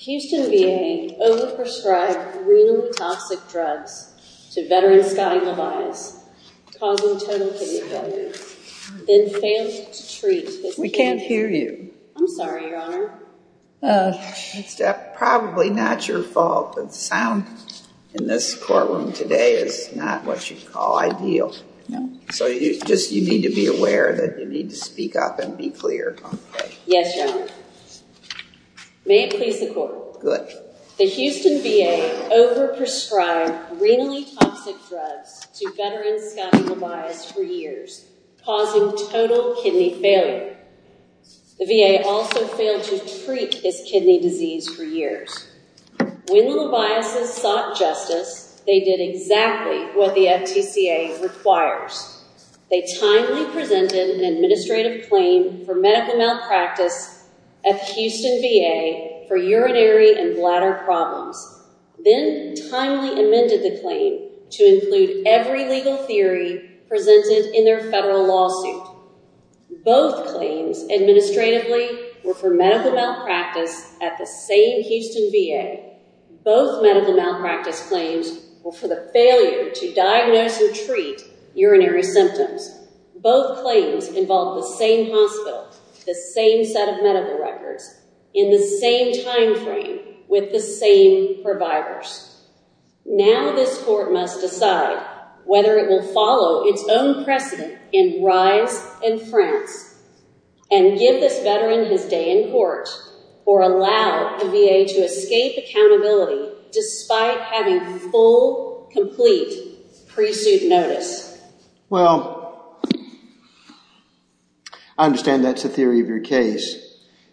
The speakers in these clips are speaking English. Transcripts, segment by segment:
Houston VA over-prescribed renal methoxic drugs to veteran Scotty LeVias, causing him to have a total kidney failure, then failed to treat his kidney. We can't hear you. I'm sorry, Your Honor. It's probably not your fault, but the sound in this courtroom today is not what you'd call ideal. So you just need to be aware that you need to speak up and be clear. Yes, Your Honor. May it please the Court. Good. The Houston VA over-prescribed renally toxic drugs to veteran Scotty LeVias for years, causing total kidney failure. The VA also failed to treat his kidney disease for years. When the LeVias' sought justice, they did exactly what the FTCA requires. They timely presented an administrative claim for medical malpractice at the Houston VA for urinary and bladder problems, then timely amended the claim to include every legal theory presented in their federal lawsuit. Both claims administratively were for medical malpractice at the same Houston VA. Both medical malpractice claims were for the failure to diagnose or treat urinary symptoms. Both claims involved the same hospital, the same set of medical records, in the same timeframe with the same providers. Now this Court must decide whether it will follow its own precedent in RISE and France and give this veteran his day in court or allow the VA to escape accountability despite having full, complete pre-suit notice. Well, I understand that's the theory of your case.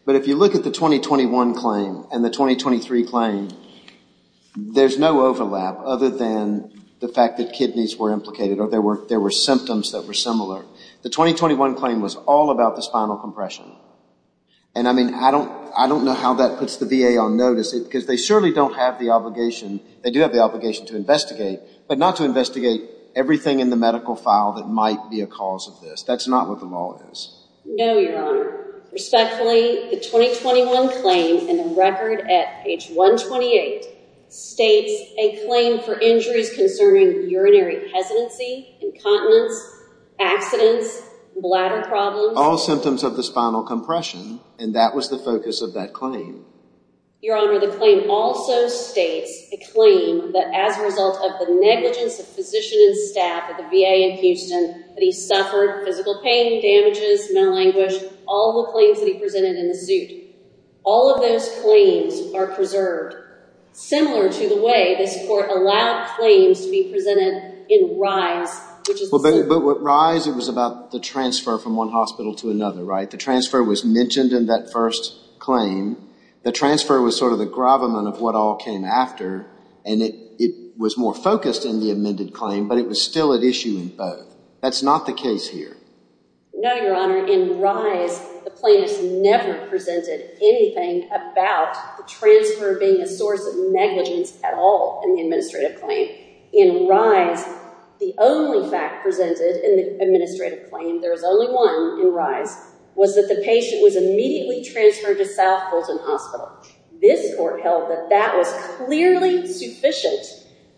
But if you look at the 2021 claim and the 2023 claim, there's no overlap other than the fact that kidneys were implicated or there were symptoms that were similar. The 2021 claim was all about the spinal compression. And I mean, I don't know how that puts the VA on notice because they surely don't have the obligation, they do have the obligation to investigate, but not to investigate everything in the medical file that might be a cause of this. That's not what the law is. No, Your Honor. Respectfully, the 2021 claim in the record at page 128 states a claim for injuries concerning urinary hesitancy, incontinence, accidents, bladder problems. All symptoms of the spinal compression. And that was the focus of that claim. Your Honor, the claim also states a claim that as a result of the negligence of physician and staff at the VA in Houston, that he suffered physical pain, damages, mental anguish, all the claims that he presented in the suit. All of those claims are preserved. Similar to the way this court allowed claims to be presented in RISE, which is the suit. But RISE, it was about the transfer from one hospital to another, right? The transfer was mentioned in that first claim. The transfer was sort of the gravamen of what all came after, and it was more focused in the amended claim, but it was still at issue in both. That's not the case here. No, Your Honor. In RISE, the plaintiffs never presented anything about the transfer being a source of negligence at all in the administrative claim. In RISE, the only fact presented in the administrative claim, there was only one in RISE, was that the patient was immediately transferred to South Fulton Hospital. This court held that that was clearly sufficient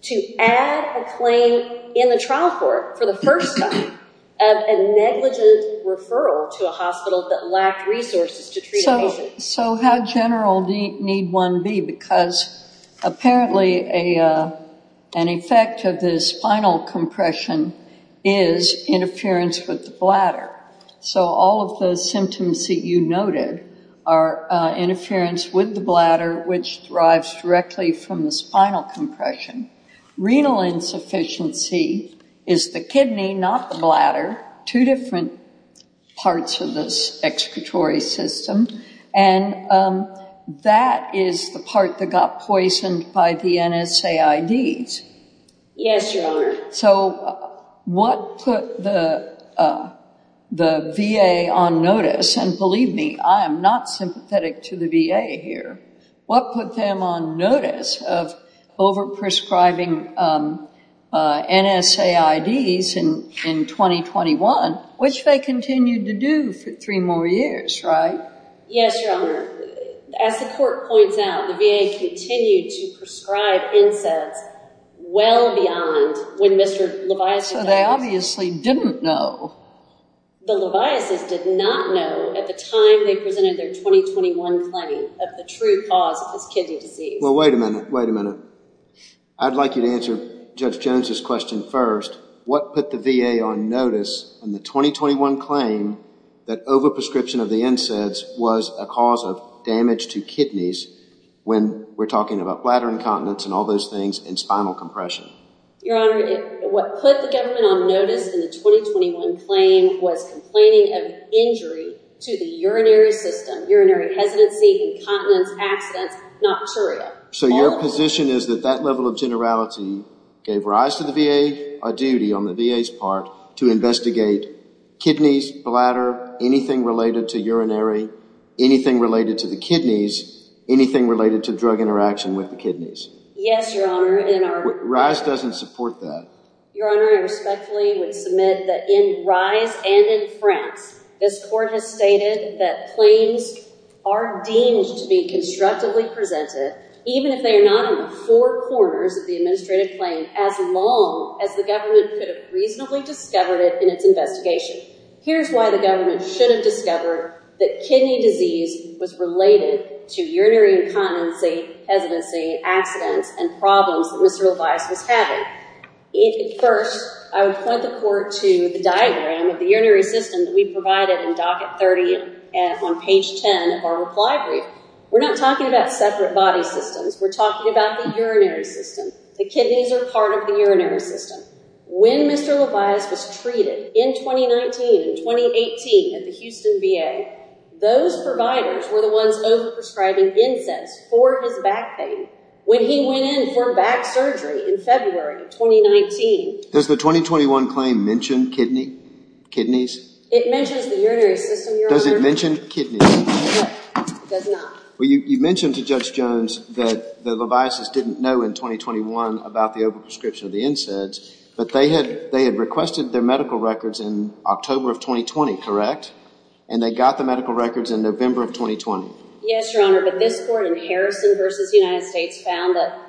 to add a claim in the trial court for the first time of a negligent referral to a hospital that lacked resources to treat a patient. So how general need one be? Because apparently an effect of the spinal compression is interference with the bladder. So all of the symptoms that you noted are interference with the bladder, which derives directly from the spinal compression. Renal insufficiency is the kidney, not the bladder. Two different parts of the excretory system, and that is the part that got poisoned by the NSAIDs. Yes, Your Honor. So what put the VA on notice, and believe me, I am not sympathetic to the VA here, what put them on notice of over-prescribing NSAIDs in 2021, which they continued to do for three more years, right? Yes, Your Honor. As the court points out, the VA continued to prescribe NSAIDs well beyond when Mr. Leviass... So they obviously didn't know. The Leviasses did not know at the time they presented their 2021 claim of the true cause of this kidney disease. Well, wait a minute. Wait a minute. I'd like you to answer Judge Jones's question first. What put the VA on notice in the 2021 claim that over-prescription of the NSAIDs was a cause of damage to kidneys when we're talking about bladder incontinence and all those things and spinal compression? Your Honor, what put the government on notice in the 2021 claim was complaining of injury to the urinary system, urinary hesitancy, incontinence, abstinence, nocturia. So your position is that that level of generality gave rise to the VA a duty on the VA's part to investigate kidneys, bladder, anything related to urinary, anything related to the kidneys, anything related to drug interaction with the kidneys. Yes, Your Honor. And our... RISE doesn't support that. Your Honor, I respectfully would submit that in RISE and in France, this court has stated that claims are deemed to be constructively presented, even if they are not in the four corners of the administrative claim, as long as the government could have reasonably discovered it in its investigation. Here's why the government should have discovered that kidney disease was related to urinary incontinency, hesitancy, abstinence, and problems that Mr. Levias was having. First, I would point the court to the diagram of the urinary system that we provided in docket 30 on page 10 of our reply brief. We're not talking about separate body systems. We're talking about the urinary system. The kidneys are part of the urinary system. When Mr. Levias was treated in 2019 and 2018 at the Houston VA, those providers were the ones over-prescribing incense for his back pain. When he went in for back surgery in February of 2019... Does the 2021 claim mention kidney, kidneys? It mentions the urinary system, Your Honor. Does it mention kidneys? It does not. Well, you mentioned to Judge Jones that the Leviases didn't know in 2021 about the over-prescription of the incense, but they had requested their medical records in October of 2020, correct? And they got the medical records in November of 2020. Yes, Your Honor, but this court in Harrison v. United States found that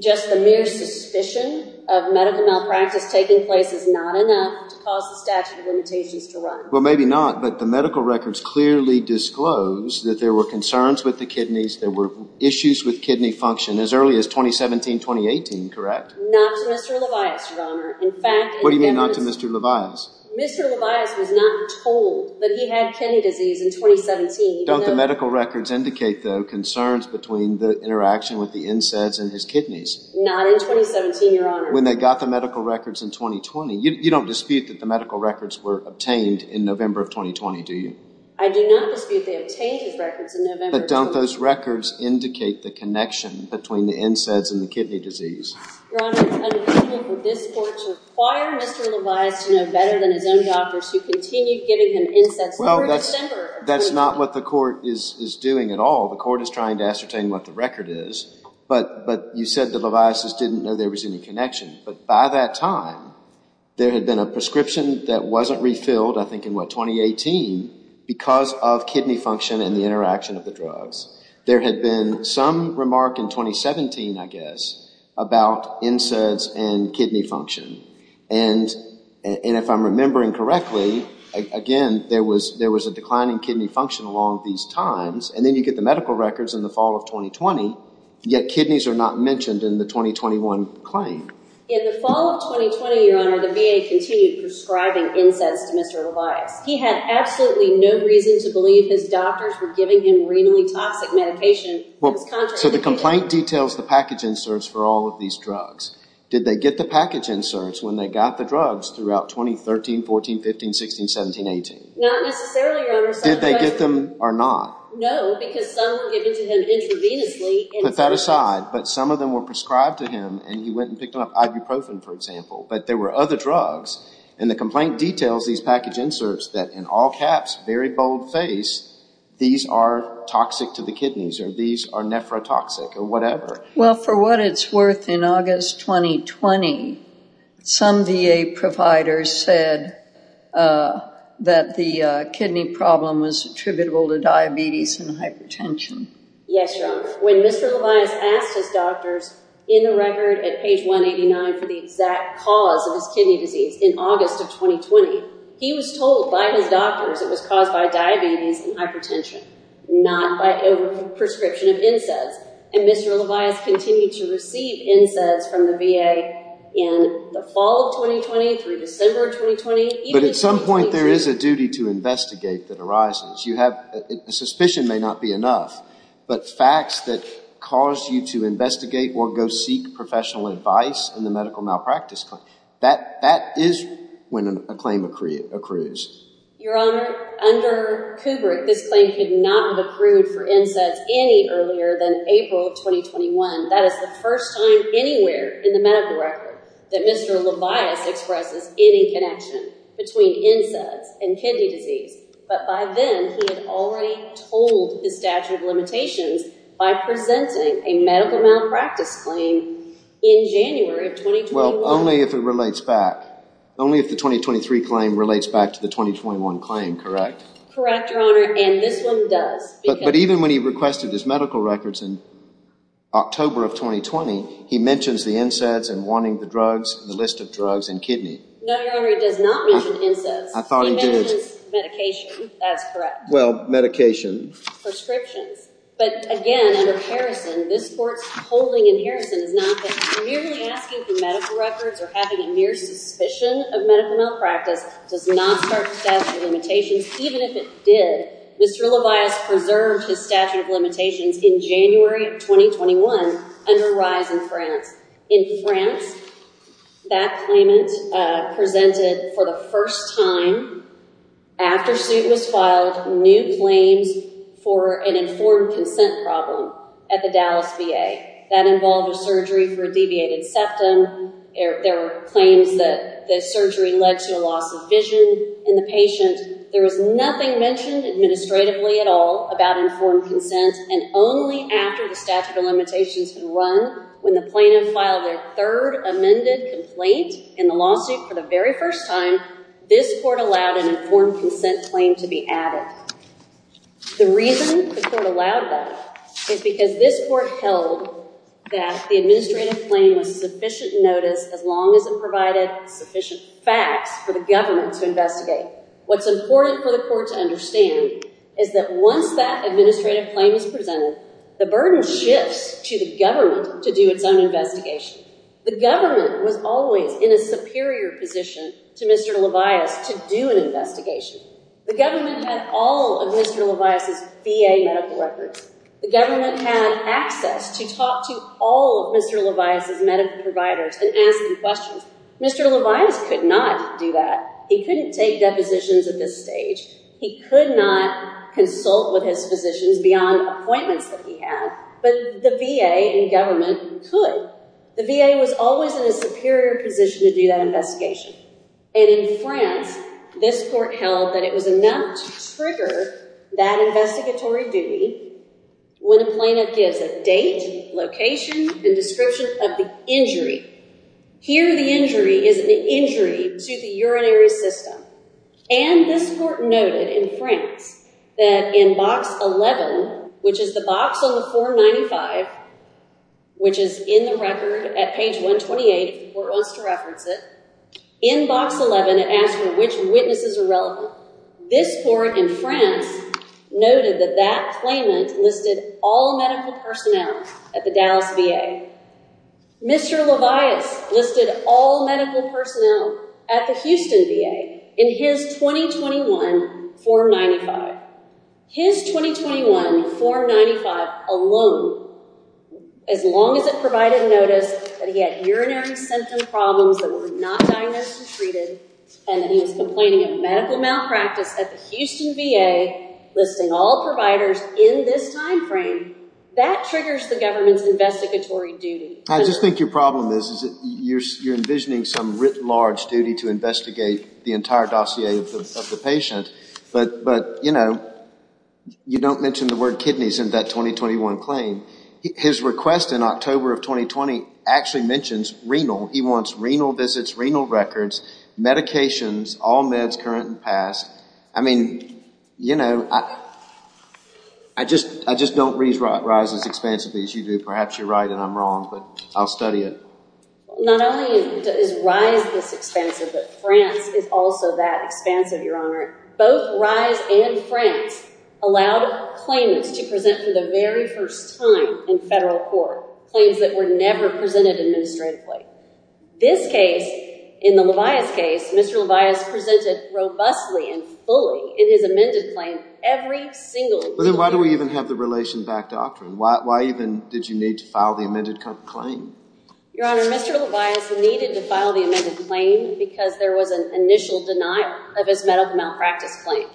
just the mere suspicion of medical malpractice taking place is not enough to cause the statute of limitations to run. Well, maybe not, but the medical records clearly disclose that there were concerns with the kidneys, there were issues with kidney function as early as 2017, 2018, correct? Not to Mr. Levias, Your Honor. In fact... What do you mean, not to Mr. Levias? Mr. Levias was not told that he had kidney disease in 2017. Don't the medical records indicate, though, concerns between the interaction with the incense and his kidneys? Not in 2017, Your Honor. When they got the medical records in 2020. You don't dispute that the medical records were obtained in November of 2020, do you? I do not dispute they obtained his records in November of 2020. But don't those records indicate the connection between the incense and the kidney disease? Your Honor, it's unbecoming for this court to require Mr. Levias to know better than his own doctors who continued giving him incense through December of 2020. That's not what the court is doing at all. The court is trying to ascertain what the record is, but you said the Leviases didn't know there was any connection. But by that time, there had been a prescription that wasn't refilled, I think in, what, 2018, because of kidney function and the interaction of the drugs. There had been some remark in 2017, I guess, about incense and kidney function. And if I'm remembering correctly, again, there was a declining kidney function along these times. And then you get the medical records in the fall of 2020, yet kidneys are not mentioned in the 2021 claim. In the fall of 2020, Your Honor, the VA continued prescribing incense to Mr. Levias. He had absolutely no reason to believe his doctors were giving him renally toxic medication that was contraindicated. So the complaint details the package inserts for all of these drugs. Did they get the package inserts when they got the drugs throughout 2013, 14, 15, 16, 17, 18? Not necessarily, Your Honor. Did they get them or not? No, because some were given to him intravenously. Put that aside. But some of them were prescribed to him, and he went and picked them up, ibuprofen, for example. But there were other drugs. And the complaint details these package inserts that, in all caps, very bold face, these are toxic to the kidneys, or these are nephrotoxic, or whatever. Well, for what it's worth, in August 2020, some VA providers said that the kidney problem was attributable to diabetes and hypertension. Yes, Your Honor. For what it's worth, when Mr. Levias asked his doctors in the record at page 189 for the exact cause of his kidney disease in August of 2020, he was told by his doctors it was caused by diabetes and hypertension, not by overprescription of NSAIDs. And Mr. Levias continued to receive NSAIDs from the VA in the fall of 2020 through December of 2020. But at some point, there is a duty to investigate that arises. You have, a suspicion may not be enough, but facts that cause you to investigate or go seek professional advice in the medical malpractice claim, that is when a claim accrues. Your Honor, under Kubrick, this claim could not have accrued for NSAIDs any earlier than April of 2021. That is the first time anywhere in the medical record that Mr. Levias expresses any connection between NSAIDs and kidney disease. But by then, he had already told his statute of limitations by presenting a medical malpractice claim in January of 2021. Well, only if it relates back, only if the 2023 claim relates back to the 2021 claim, correct? Correct, Your Honor. And this one does. But even when he requested his medical records in October of 2020, he mentions the NSAIDs and wanting the drugs, the list of drugs and kidney. No, Your Honor, he does not mention NSAIDs. I thought he did. He mentions medication. That's correct. Well, medication. But again, under Harrison, this Court's holding in Harrison is not that merely asking for medical records or having a mere suspicion of medical malpractice does not start the statute of limitations. Even if it did, Mr. Levias preserved his statute of limitations in January of 2021 under Reyes in France. In France, that claimant presented for the first time after suit was filed, new claims for an informed consent problem at the Dallas VA. That involved a surgery for a deviated septum. There were claims that the surgery led to a loss of vision in the patient. There was nothing mentioned administratively at all about informed consent. And only after the statute of limitations had run, when the plaintiff filed their third amended complaint in the lawsuit for the very first time, this Court allowed an informed consent claim to be added. The reason the Court allowed that is because this Court held that the administrative claim was sufficient notice as long as it provided sufficient facts for the government to investigate. What's important for the Court to understand is that once that administrative claim is presented, the burden shifts to the government to do its own investigation. The government was always in a superior position to Mr. Levias to do an investigation. The government had all of Mr. Levias' VA medical records. The government had access to talk to all of Mr. Levias' medical providers and ask them questions. Mr. Levias could not do that. He couldn't take depositions at this stage. He could not consult with his physicians beyond appointments that he had, but the VA and government could. The VA was always in a superior position to do that investigation. And in France, this Court held that it was enough to trigger that investigatory duty when a plaintiff gives a date, location, and description of the injury. Here, the injury is an injury to the urinary system. And this Court noted in France that in box 11, which is the box on the form 95, which is in the record at page 128, if the Court wants to reference it, in box 11, it asks for which witnesses are relevant. This Court in France noted that that claimant listed all medical personnel at the Dallas VA. Mr. Levias listed all medical personnel at the Houston VA in his 2021 form 95. His 2021 form 95 alone, as long as it provided notice that he had urinary symptom problems that were not diagnosed and treated, and that he was complaining of medical malpractice at the Houston VA, listing all providers in this timeframe, that triggers the government's investigatory duty. I just think your problem is that you're envisioning some writ large duty to investigate the entire dossier of the patient. But you know, you don't mention the word kidneys in that 2021 claim. His request in October of 2020 actually mentions renal. He wants renal visits, renal records, medications, all meds current and past. I mean, you know, I just, I just don't read RISE as expansively as you do. Perhaps you're right and I'm wrong, but I'll study it. Not only is RISE this expansive, but France is also that expansive, Your Honor. Both RISE and France allowed claimants to present for the very first time in federal court, claims that were never presented administratively. This case, in the Levias case, Mr. Levias presented robustly and fully in his amended claim, every single. But then why do we even have the relation back doctrine? Why even did you need to file the amended claim? Your Honor, Mr. Levias needed to file the amended claim because there was an initial denial of his medical malpractice claim.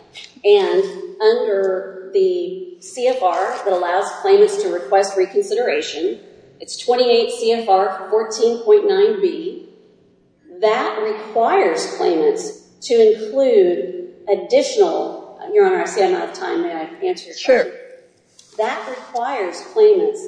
And under the CFR that allows claimants to request reconsideration, it's 28 CFR 14.9B. That requires claimants to include additional, Your Honor, I see I'm out of time. May I answer your question? That requires claimants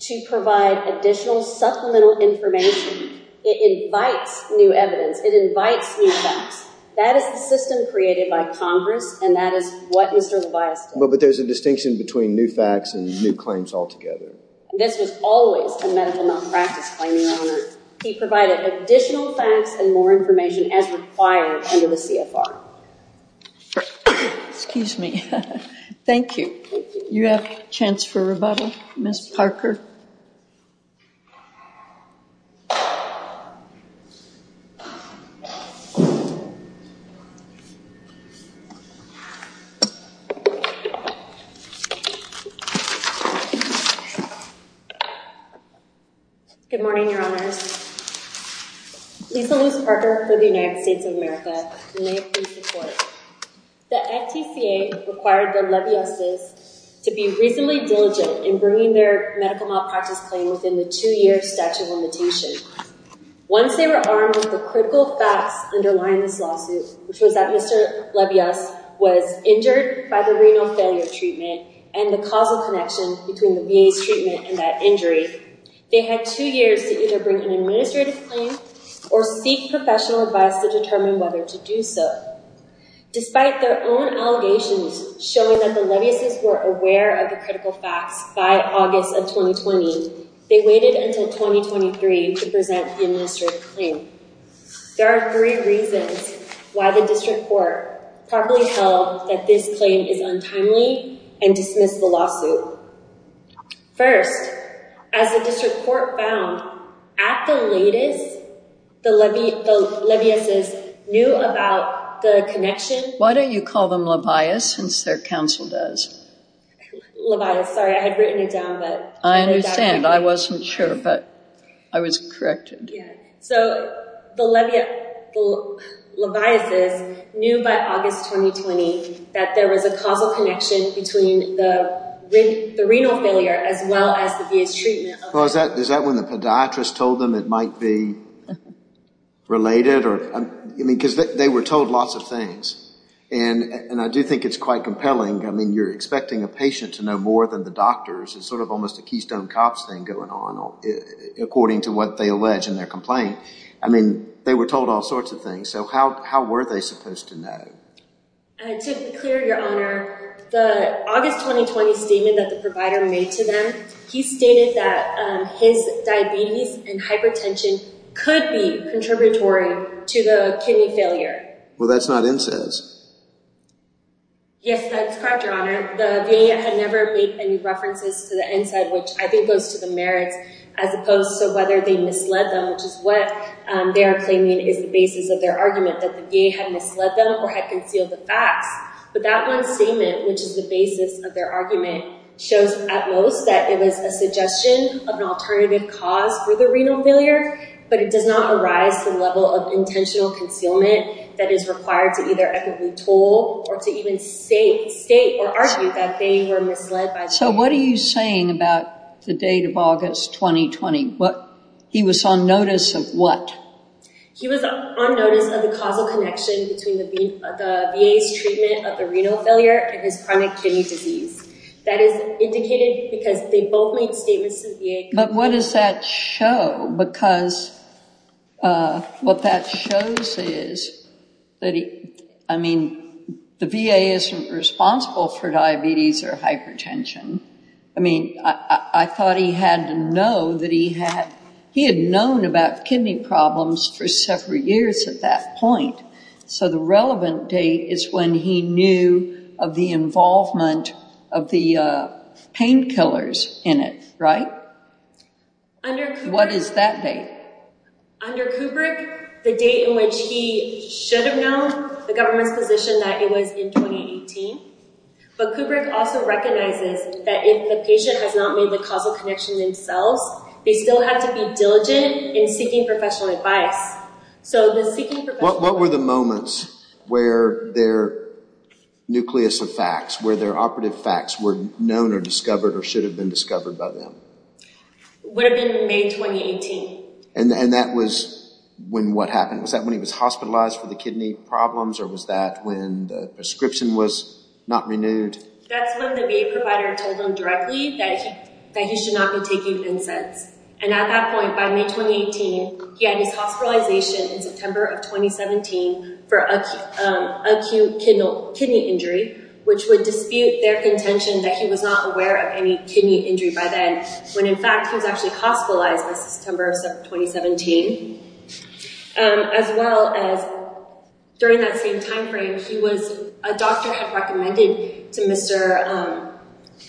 to provide additional supplemental information. It invites new evidence. It invites new facts. That is the system created by Congress, and that is what Mr. Levias did. But there's a distinction between new facts and new claims altogether. This was always a medical malpractice claim, Your Honor. He provided additional facts and more information as required under the CFR. Excuse me. Thank you. You have a chance for rebuttal, Ms. Parker. Good morning, Your Honors. Lisa Luce Parker for the United States of America. May it please the Court. The NTCA required the Leviases to be reasonably diligent in bringing their medical malpractice claim within the two-year statute of limitation. Once they were armed with the critical facts underlying this lawsuit, which was that Mr. Levias was injured by the renal failure treatment and the causal connection between the VA's treatment and that injury, they had two years to either bring an administrative claim or seek professional advice to determine whether to do so. Despite their own allegations showing that the Leviases were aware of the critical facts by August of 2020, they waited until 2023 to present the administrative claim. There are three reasons why the District Court properly held that this claim is untimely and dismissed the lawsuit. First, as the District Court found at the latest, the Leviases knew about the connection. Why don't you call them Levias since their counsel does? Levias, sorry. I had written it down. I understand. I wasn't sure, but I was corrected. So the Leviases knew by August 2020 that there was a causal connection between the renal failure as well as the VA's treatment. Is that when the podiatrist told them it might be related? Because they were told lots of things. And I do think it's quite compelling. I mean, you're expecting a patient to know more than the doctors. It's sort of almost a Keystone Cops thing going on according to what they allege in their complaint. I mean, they were told all sorts of things. So how were they supposed to know? To be clear, Your Honor, the August 2020 statement that the provider made to them, he stated that his diabetes and hypertension could be contributory to the kidney failure. Well, that's not NSAIDs. Yes, that's correct, Your Honor. The VA had never made any references to the NSAID, which I think goes to the merits, as opposed to whether they misled them, which is what they are claiming is the basis of their argument, that the VA had misled them or had concealed the facts. But that one statement, which is the basis of their argument, shows at most that it was a suggestion of an alternative cause for the renal failure, but it does not arise to the intentional concealment that is required to either equitably told or to even state or argue that they were misled by the VA. So what are you saying about the date of August 2020? He was on notice of what? He was on notice of the causal connection between the VA's treatment of the renal failure and his chronic kidney disease. That is indicated because they both made statements to the VA. But what does that show? Because what that shows is that, I mean, the VA isn't responsible for diabetes or hypertension. I mean, I thought he had to know that he had known about kidney problems for several years at that point, so the relevant date is when he knew of the involvement of the painkillers in it, right? What is that date? Under Kubrick, the date in which he should have known the government's position that it was in 2018, but Kubrick also recognizes that if the patient has not made the causal connection themselves, they still have to be diligent in seeking professional advice. What were the moments where their nucleus of facts, where their operative facts were known or discovered or should have been discovered by them? It would have been May 2018. And that was when what happened? Was that when he was hospitalized for the kidney problems or was that when the prescription was not renewed? That's when the VA provider told him directly that he should not be taking NSAIDs. And at that point, by May 2018, he had his hospitalization in September of 2017 for acute kidney injury, which would dispute their contention that he was not aware of any kidney injury by then, when in fact, he was actually hospitalized by September of 2017. As well as during that same timeframe, a doctor had recommended to Mr.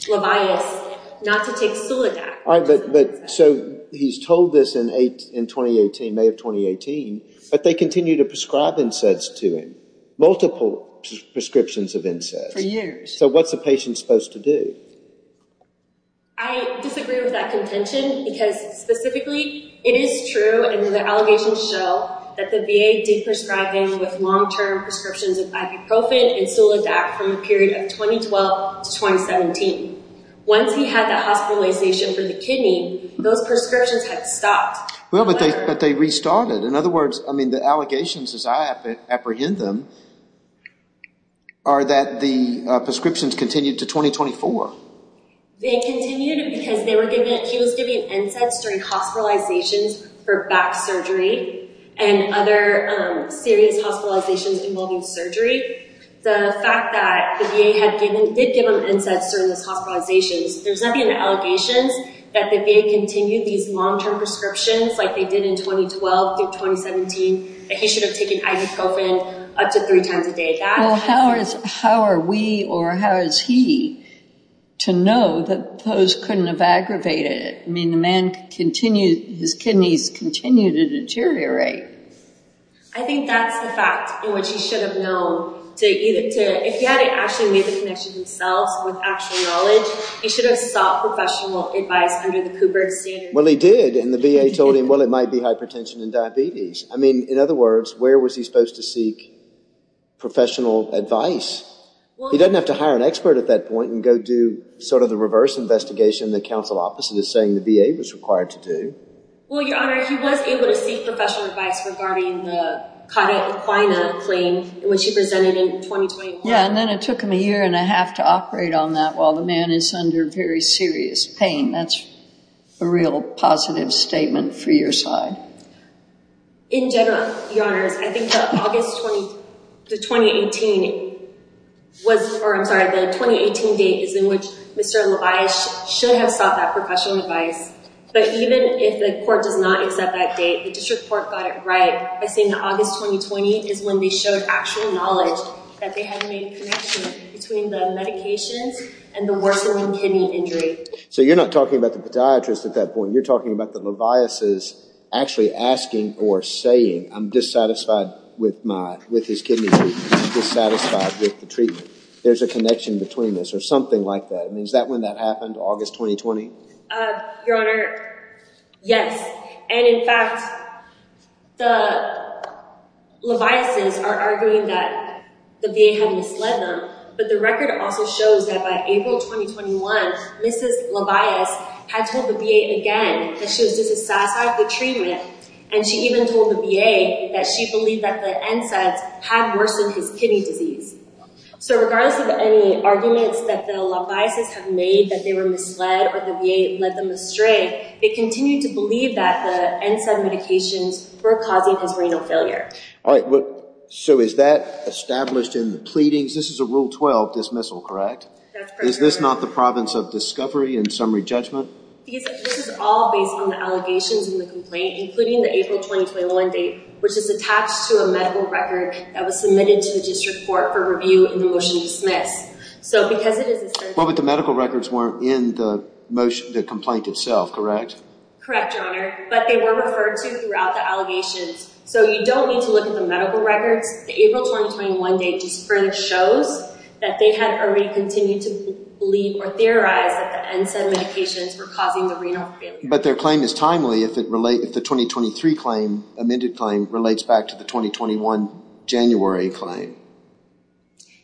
Levias not to take Suledac. So he's told this in May of 2018, but they continue to prescribe NSAIDs to him. Multiple prescriptions of NSAIDs. So what's a patient supposed to do? I disagree with that contention because specifically, it is true and the allegations show that the VA did prescribe him with long-term prescriptions of ibuprofen and Suledac from the period of 2012 to 2017. Once he had that hospitalization for the kidney, those prescriptions had stopped. But they restarted. In other words, the allegations, as I apprehend them, are that the prescriptions continued to 2024. They continued because he was giving NSAIDs during hospitalizations for back surgery and other serious hospitalizations involving surgery. The fact that the VA did give him NSAIDs during those hospitalizations, there's nothing in the allegations that the VA continued these long-term prescriptions like they did in 2012 to 2017, that he should have taken ibuprofen up to three times a day. Well, how are we or how is he to know that those couldn't have aggravated it? I mean, the man continued, his kidneys continued to deteriorate. I think that's the fact in which he should have known. If he hadn't actually made the connection himself with actual knowledge, he should have sought professional advice under the Cooper standard. Well, he did, and the VA told him, well, it might be hypertension and diabetes. I mean, in other words, where was he supposed to seek professional advice? He doesn't have to hire an expert at that point and go do sort of the reverse investigation that counsel opposite is saying the VA was required to do. Well, Your Honor, he was able to seek professional advice regarding the Cauda Equina claim, which he presented in 2021. Yeah, and then it took him a year and a half to operate on that while the man is under very serious pain. That's a real positive statement for your side. In general, Your Honors, I think that August 20, the 2018 was, or I'm sorry, the 2018 date is in which Mr. LaVias should have sought that professional advice. But even if the court does not accept that date, the district court got it right by saying August 2020 is when they showed actual knowledge that they had made a connection between the medications and the worsening kidney injury. So you're not talking about the podiatrist at that point. You're talking about the LaVias' actually asking or saying, I'm dissatisfied with his kidney treatment, dissatisfied with the treatment. There's a connection between this or something like that. I mean, is that when that happened, August 2020? Your Honor, yes. And in fact, the LaVias' are arguing that the VA had misled them. But the record also shows that by April 2021, Mrs. LaVias had told the VA again that she was dissatisfied with treatment. And she even told the VA that she believed that the NSAIDs had worsened his kidney disease. So regardless of any arguments that the LaVias' have made that they were misled or the VA led them astray, they continue to believe that the NSAID medications were causing his renal failure. All right. So is that established in the pleadings? This is a Rule 12 dismissal, correct? Is this not the province of discovery and summary judgment? Because this is all based on the allegations in the complaint, including the April 2021 date, which is attached to a medical record that was submitted to the district court for review in the motion to dismiss. So because it is... Well, but the medical records weren't in the complaint itself, correct? Correct, Your Honor. But they were referred to throughout the allegations. So you don't need to look at the medical records. The April 2021 date just further shows that they had already continued to believe or theorize that the NSAID medications were causing the renal failure. But their claim is timely if the 2023 claim, amended claim, relates back to the 2021 January claim.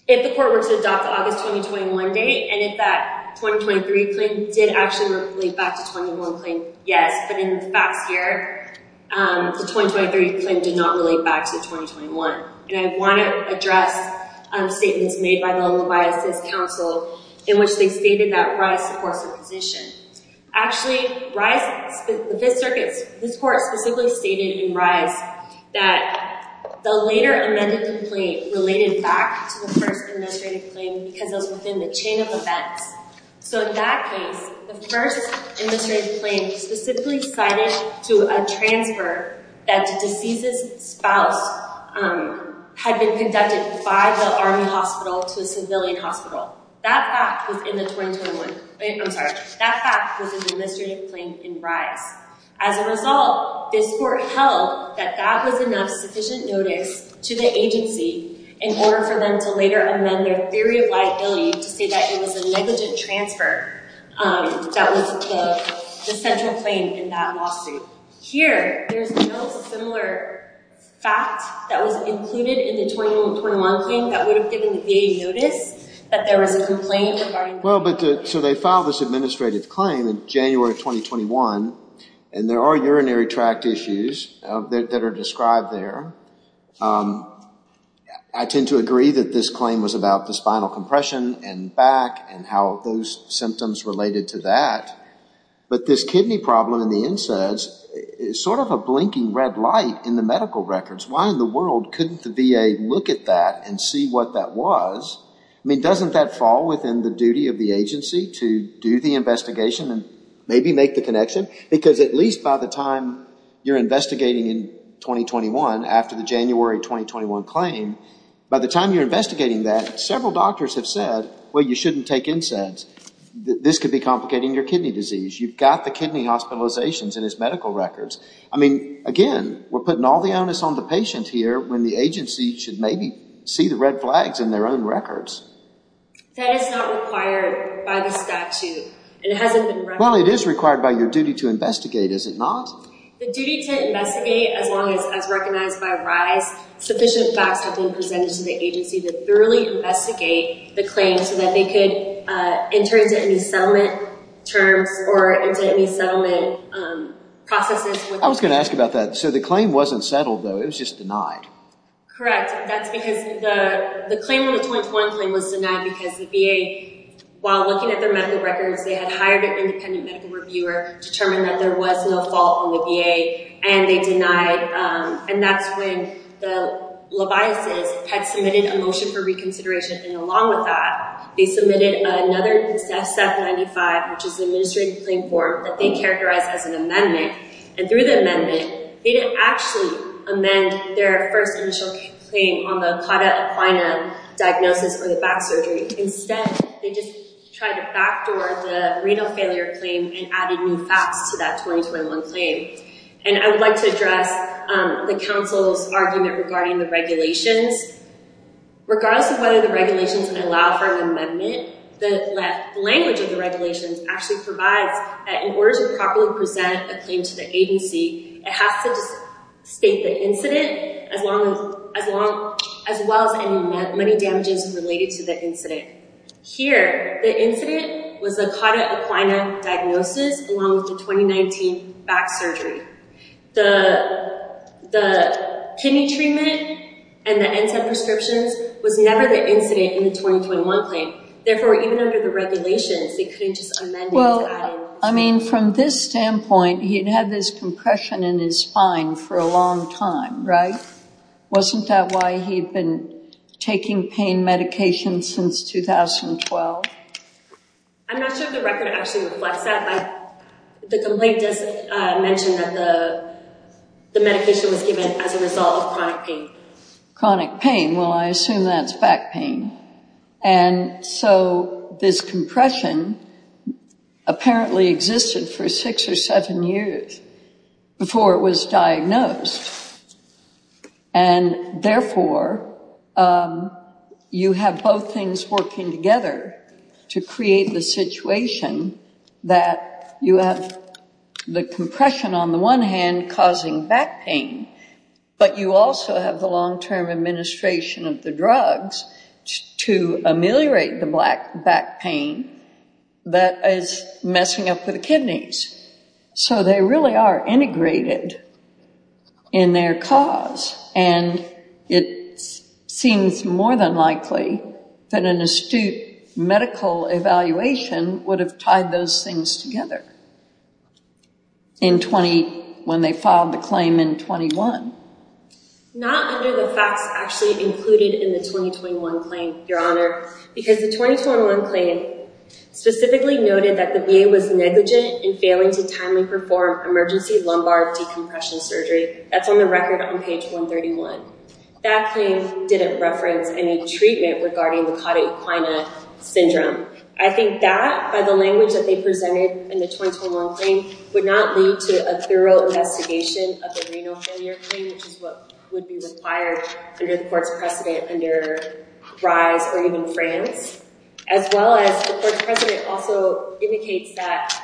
If the court were to adopt the August 2021 date, and if that 2023 claim did actually relate back to the 2021 claim, yes. But in the past year, the 2023 claim did not relate back to the 2021. And I want to address statements made by the Levis City Council, in which they stated that RISE supports the position. Actually, RISE, the Fifth Circuit, this court specifically stated in RISE that the later amended complaint related back to the first administrative claim because it was within the chain of events. So in that case, the first administrative claim specifically cited to a transfer that the deceased's spouse had been conducted by the Army Hospital to a civilian hospital. That fact was in the 2021. I'm sorry. That fact was an administrative claim in RISE. As a result, this court held that that was enough sufficient notice to the agency in order for them to later amend their theory of liability to say that it was a negligent transfer that was the central claim in that lawsuit. Here, there's a similar fact that was included in the 2021 claim that would have given the VA notice that there was a complaint regarding... So they filed this administrative claim in January 2021, and there are urinary tract issues that are described there. I tend to agree that this claim was about the spinal compression and back and how those symptoms related to that. But this kidney problem in the insides is sort of a blinking red light in the medical records. Why in the world couldn't the VA look at that and see what that was? I mean, doesn't that fall within the duty of the agency to do the investigation and maybe make the connection? Because at least by the time you're investigating in 2021, after the January 2021 claim, by the time you're investigating that, several doctors have said, well, you shouldn't take NSAIDs. This could be complicating your kidney disease. You've got the kidney hospitalizations in his medical records. I mean, again, we're putting all the onus on the patient here when the agency should maybe see the red flags in their own records. That is not required by the statute. Well, it is required by your duty to investigate, is it not? The duty to investigate, as long as recognized by RISE, sufficient facts have been presented to the agency to thoroughly investigate the claim so that they could enter into any settlement terms or into any settlement processes. I was going to ask about that. So the claim wasn't settled, though. It was just denied. Correct. That's because the claim in the 2021 claim was denied because the VA, while looking at their medical records, they had hired an independent medical reviewer to determine that there was no fault on the VA, and they denied. And that's when the leviases had submitted a motion for reconsideration. And along with that, they submitted another SEF-95, which is an administrative claim form that they characterized as an amendment. And through the amendment, they didn't actually amend their first initial claim on the CAUTA equina diagnosis for the back surgery. Instead, they just tried to backdoor the renal failure claim and added new facts to that 2021 claim. And I would like to address the council's argument regarding the regulations. Regardless of whether the regulations allow for an amendment, the language of the regulations actually provides that in order to properly present a claim to the agency, it has to state the incident as well as any money damages related to the incident. Here, the incident was a CAUTA equina diagnosis along with the 2019 back surgery. The kidney treatment and the NSAID prescriptions was never the incident in the 2021 claim. Therefore, even under the regulations, they couldn't just amend it. I mean, from this standpoint, he'd had this compression in his spine for a long time, right? Wasn't that why he'd been taking pain medication since 2012? I'm not sure if the record actually reflects that. The complaint does mention that the medication was given as a result of chronic pain. Chronic pain. Well, I assume that's back pain. And so this compression apparently existed for six or seven years before it was diagnosed. And therefore, you have both things working together to create the situation that you have the compression on the one hand causing back pain, but you also have the long-term administration of the drugs to ameliorate the back pain that is messing up with the kidneys. So they really are integrated in their cause. And it seems more than likely that an astute medical evaluation would have tied those things together when they filed the claim in 21. Not under the facts actually included in the 2021 claim, Your Honor. Because the 2021 claim specifically noted that the VA was negligent in failing to timely perform emergency lumbar decompression surgery. That's on the record on page 131. That claim didn't reference any treatment regarding the cauda equina syndrome. I think that by the language that they presented in the 2021 claim would not lead to a thorough investigation of the renal failure claim, which is what would be required under the court's precedent under RISE or even France. As well as the court's precedent also indicates that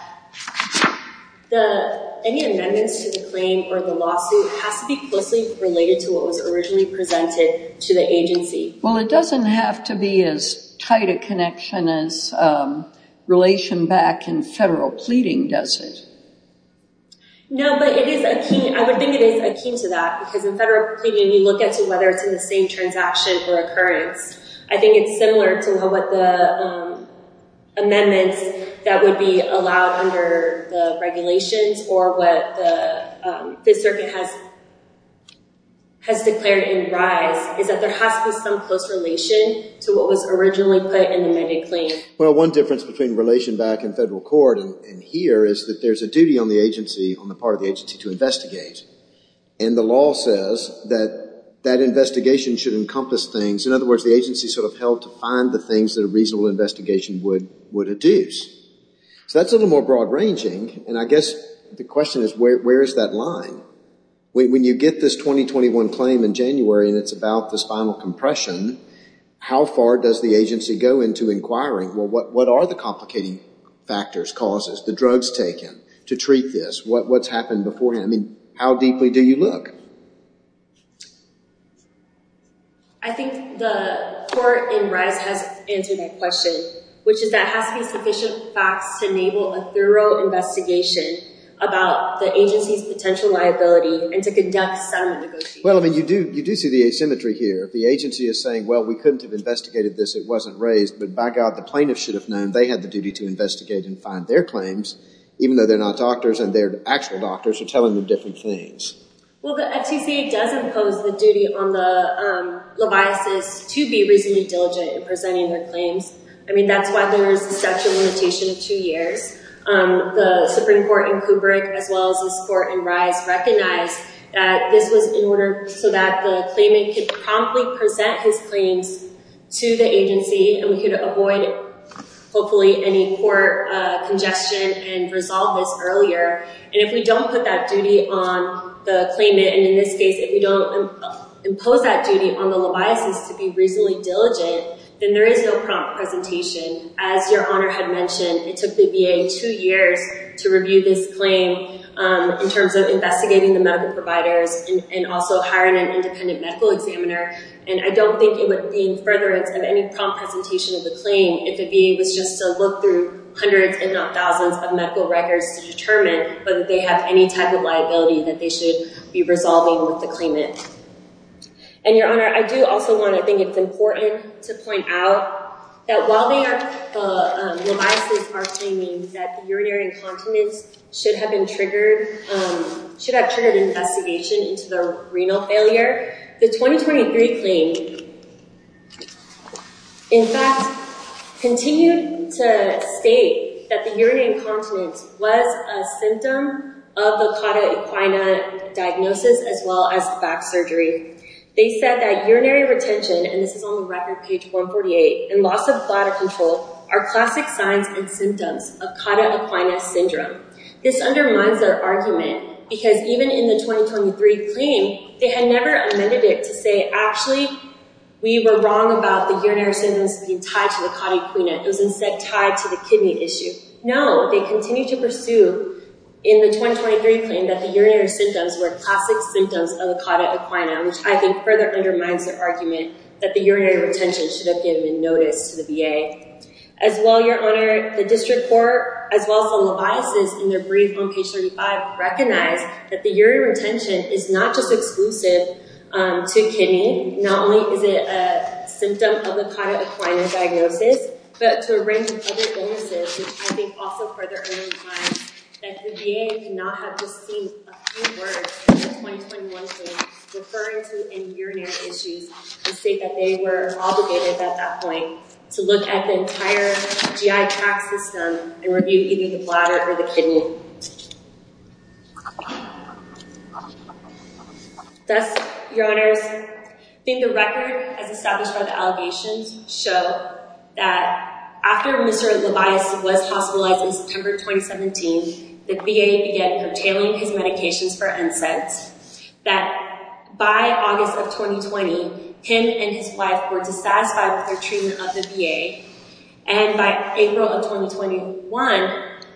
any amendments to the claim or the lawsuit has to be closely related to what was originally presented to the agency. Well, it doesn't have to be as tight a connection as relation back in federal pleading, does it? No, but it is akin. I would think it is akin to that because in federal pleading, you look at whether it's in the same transaction or occurrence. I think it's similar to what the amendments that would be allowed under the regulations or what the circuit has declared in RISE is that there has to be some close relation to what was originally put in the amended claim. Well, one difference between relation back in federal court and here is that there's a duty on the agency, on the part of the agency to investigate. And the law says that that investigation should encompass things. In other words, the agency sort of held to find the things that a reasonable investigation would adduce. So that's a little more broad ranging. And I guess the question is where is that line? When you get this 2021 claim in January and it's about the spinal compression, how far does the agency go into inquiring? Well, what are the complicating factors, causes, the drugs taken to treat this? What's happened beforehand? I mean, how deeply do you look? I think the court in RISE has answered my question, which is that has to be sufficient facts to enable a thorough investigation about the agency's potential liability and to conduct some negotiation. Well, I mean, you do see the asymmetry here. The agency is saying, well, we couldn't have investigated this. It wasn't raised. But by God, the plaintiff should have known they had the duty to investigate and find their claims, even though they're not doctors and their actual doctors are telling them different things. Well, the FCC does impose the duty on the libis to be reasonably diligent in presenting their claims. I mean, that's why there is a statute limitation of two years. The Supreme Court in Kubrick, as well as this court in RISE, recognized that this was in order so that the claimant could promptly present his claims to the agency and we could avoid, hopefully, any court congestion and resolve this earlier. And if we don't put that duty on the claimant, and in this case, if we don't impose that duty on the libis to be reasonably diligent, then there is no prompt presentation. As your honor had mentioned, it took the VA two years to review this claim in terms of investigating the medical providers and also hiring an independent medical examiner. And I don't think it would mean furtherance of any prompt presentation of the claim if the VA was just to look through hundreds, if not thousands, of medical records to determine whether they have any type of liability that they should be resolving with the claimant. And your honor, I do also want to think it's important to point out that while the libis are claiming that the urinary incontinence should have triggered an investigation into the renal failure, the 2023 claim, in fact, continued to state that the urinary incontinence was a symptom of the cauda equina diagnosis as well as the back surgery. They said that urinary retention, and this is on the record page 148, and loss of bladder control, are classic signs and symptoms of cauda equina syndrome. This undermines their argument because even in the 2023 claim, they had never amended it to say, actually, we were wrong about the urinary symptoms being tied to the cauda equina. It was instead tied to the kidney issue. No, they continued to pursue in the 2023 claim that the urinary symptoms were classic symptoms of the cauda equina, which I think further undermines their argument that the urinary retention should have given notice to the VA. As well, your honor, the district court, as well as the libis in their brief on page 35, recognize that the urinary retention is not just exclusive to kidney. Not only is it a symptom of the cauda equina diagnosis, but to a range of other illnesses, which I think also further undermines that the VA cannot have just seen a few words in the 2021 claim referring to any urinary issues and state that they were obligated at that point to look at the entire GI tract system and review either the bladder or the kidney. Thus, your honors, I think the record as established by the allegations show that after Mr. Levias was hospitalized in September 2017, the VA began curtailing his medications for their treatment of the VA. By August of 2020, him and his wife were dissatisfied with their treatment of the VA. By April of 2021,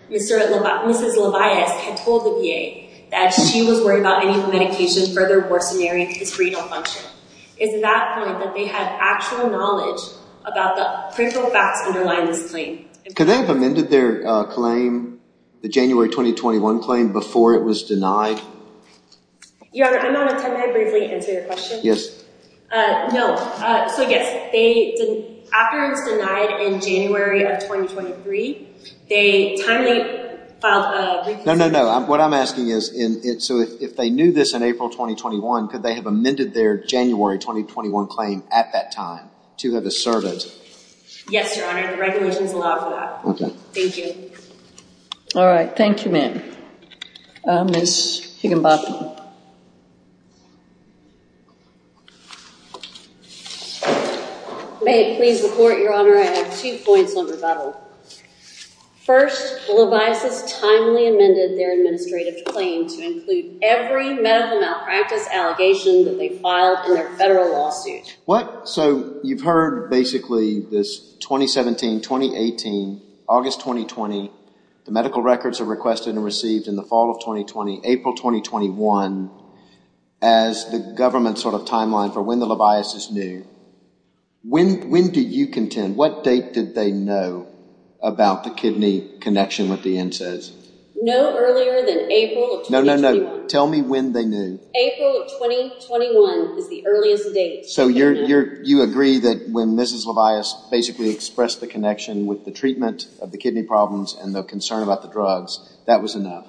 Mrs. Levias had told the VA that she was worried about any of the medications further worsening his renal function. It's at that point that they had actual knowledge about the critical facts underlying this claim. Could they have amended their claim, the January 2021 claim, before it was denied? Your honor, may I briefly answer your question? No. So, yes. After it was denied in January of 2023, they timely filed a... No, no, no. What I'm asking is, so if they knew this in April 2021, could they have amended their January 2021 claim at that time to have us serve it? Yes, your honor. The regulations allow for that. Okay. Thank you. All right. Thank you, ma'am. Ms. Higginbotham. May it please the court, your honor, I have two points on rebuttal. First, the Leviases timely amended their administrative claim to include every medical malpractice allegation that they filed in their federal lawsuit. What? So, you've heard basically this 2017, 2018, August 2020, the medical records are requested and received in the fall of 2020, April 2021, as the government's sort of timeline for when the Leviases knew. When do you contend, what date did they know about the kidney connection with the NSAIDs? No earlier than April of 2021. No, no, no. Tell me when they knew. April of 2021 is the earliest date. So, you agree that when Mrs. Leviase basically expressed the connection with the treatment of the kidney problems and the concern about the drugs, that was enough?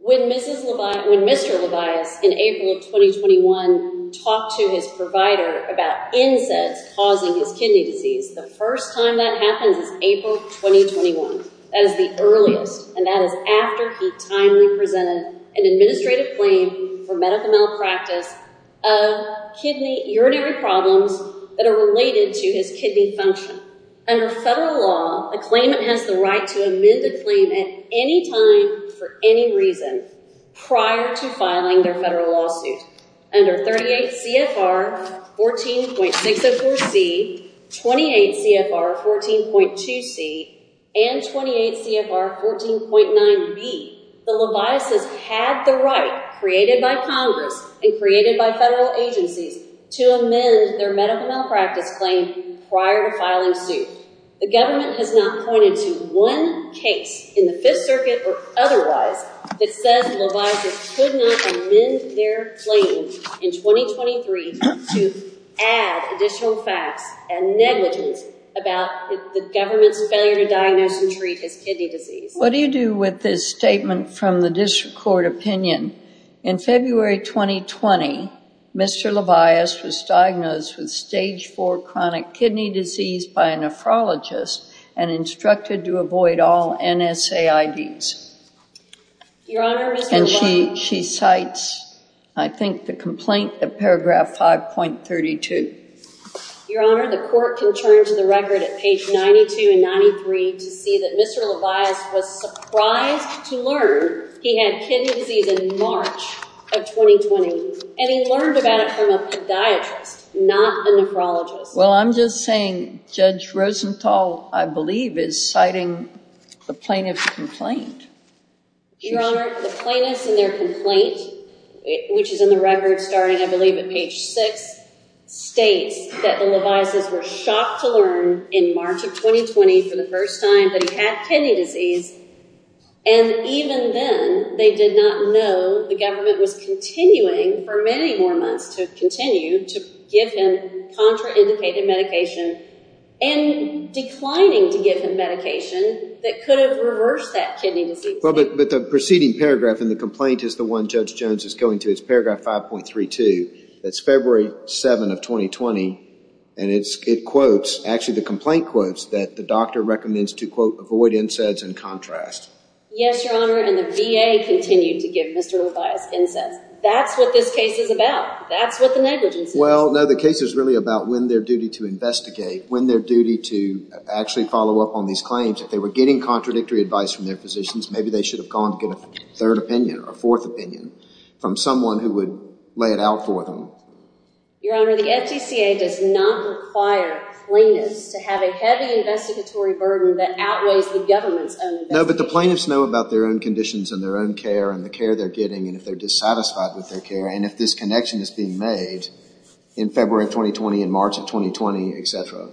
When Mr. Leviase in April of 2021 talked to his provider about NSAIDs causing his kidney disease, the first time that happens is April 2021. That is the earliest, and that is after he timely presented an administrative claim for medical malpractice of kidney urinary problems that are related to his kidney function. Under federal law, a claimant has the right to amend a claim at any time for any reason prior to filing their federal lawsuit. Under 38 CFR 14.604C, 28 CFR 14.2C, and 28 CFR 14.9B, the Leviases had the right created by Congress and created by federal agencies to amend their medical malpractice claim prior to filing suit. The government has not pointed to one case in the Fifth Circuit or otherwise that says Leviases could not amend their claim in 2023 to add additional facts and negligence about the government's failure to diagnose and treat his kidney disease. What do you do with this statement from the district court opinion? In February 2020, Mr. Levias was diagnosed with stage 4 chronic kidney disease by a nephrologist and instructed to avoid all NSAIDs. And she cites, I think, the complaint of paragraph 5.32. Your Honor, the court can turn to the record at page 92 and 93 to see that Mr. Levias was surprised to learn he had kidney disease in March of 2020. And he learned about it from a podiatrist, not a nephrologist. Well, I'm just saying Judge Rosenthal, I believe, is citing the plaintiff's complaint. Your Honor, the plaintiff's and their complaint, which is in the record starting, I believe, at page 6, states that the Leviases were shocked to learn in March of 2020 for the first time that he had kidney disease. And even then, they did not know the government was continuing for many more months to continue to give him contraindicated medication and declining to give him medication that could have reversed that kidney disease. Well, but the preceding paragraph in the complaint is the one Judge Jones is going to. It's paragraph 5.32. That's February 7 of 2020. And it quotes, actually the complaint quotes, that the doctor recommends to, quote, avoid NSAIDs and contrast. Yes, Your Honor, and the VA continued to give Mr. Levias NSAIDs. That's what this case is about. That's what the negligence is. Well, no, the case is really about when their duty to investigate, when their duty to actually follow up on these claims. If they were getting contradictory advice from their physicians, maybe they should have gone to get a third opinion or a fourth opinion from someone who would lay it out for them. Your Honor, the FGCA does not require plaintiffs to have a heavy investigatory burden that outweighs the government's own investigation. No, but the plaintiffs know about their own conditions and their own care and the care they're getting and if they're dissatisfied with their care and if this connection is being made in February of 2020, in March of 2020, etc.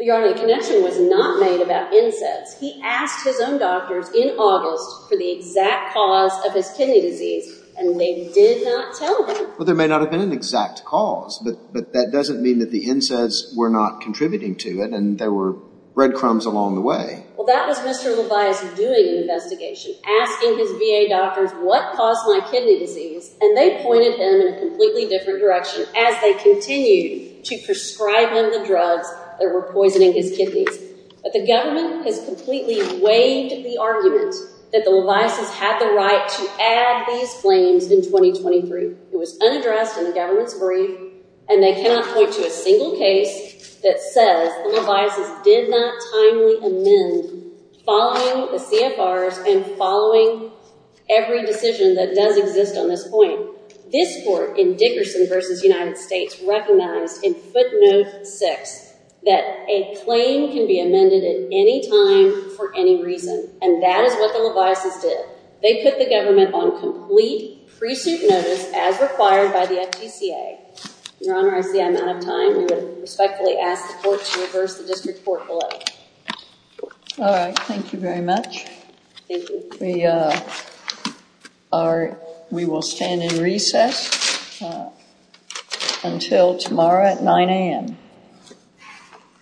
Your Honor, the connection was not made about NSAIDs. He asked his own doctors in August for the exact cause of his kidney disease and they did not tell him. Well, there may not have been an exact cause, but that doesn't mean that the NSAIDs were not contributing to it and there were breadcrumbs along the way. Well, that was Mr. Levis doing the investigation, asking his VA doctors what caused my kidney disease and they pointed him in a completely different direction as they continued to prescribe him the drugs that were poisoning his kidneys. But the government has completely waived the argument that the Levises had the right to add these claims in 2023. It was unaddressed in the government's brief and they cannot point to a single case that says the Levises did not timely amend following the CFRs and following every decision that does exist on this point. This court in Dickerson v. United States recognized in footnote six that a claim can be amended at any time for any reason and that is what the Levises did. They put the government on complete pre-suit notice as required by the FTCA. Your Honor, I see I'm out of time. We would respectfully ask the court to reverse the district court bill. All right. Thank you very much. Thank you. We will stand in recess until tomorrow at 9 a.m.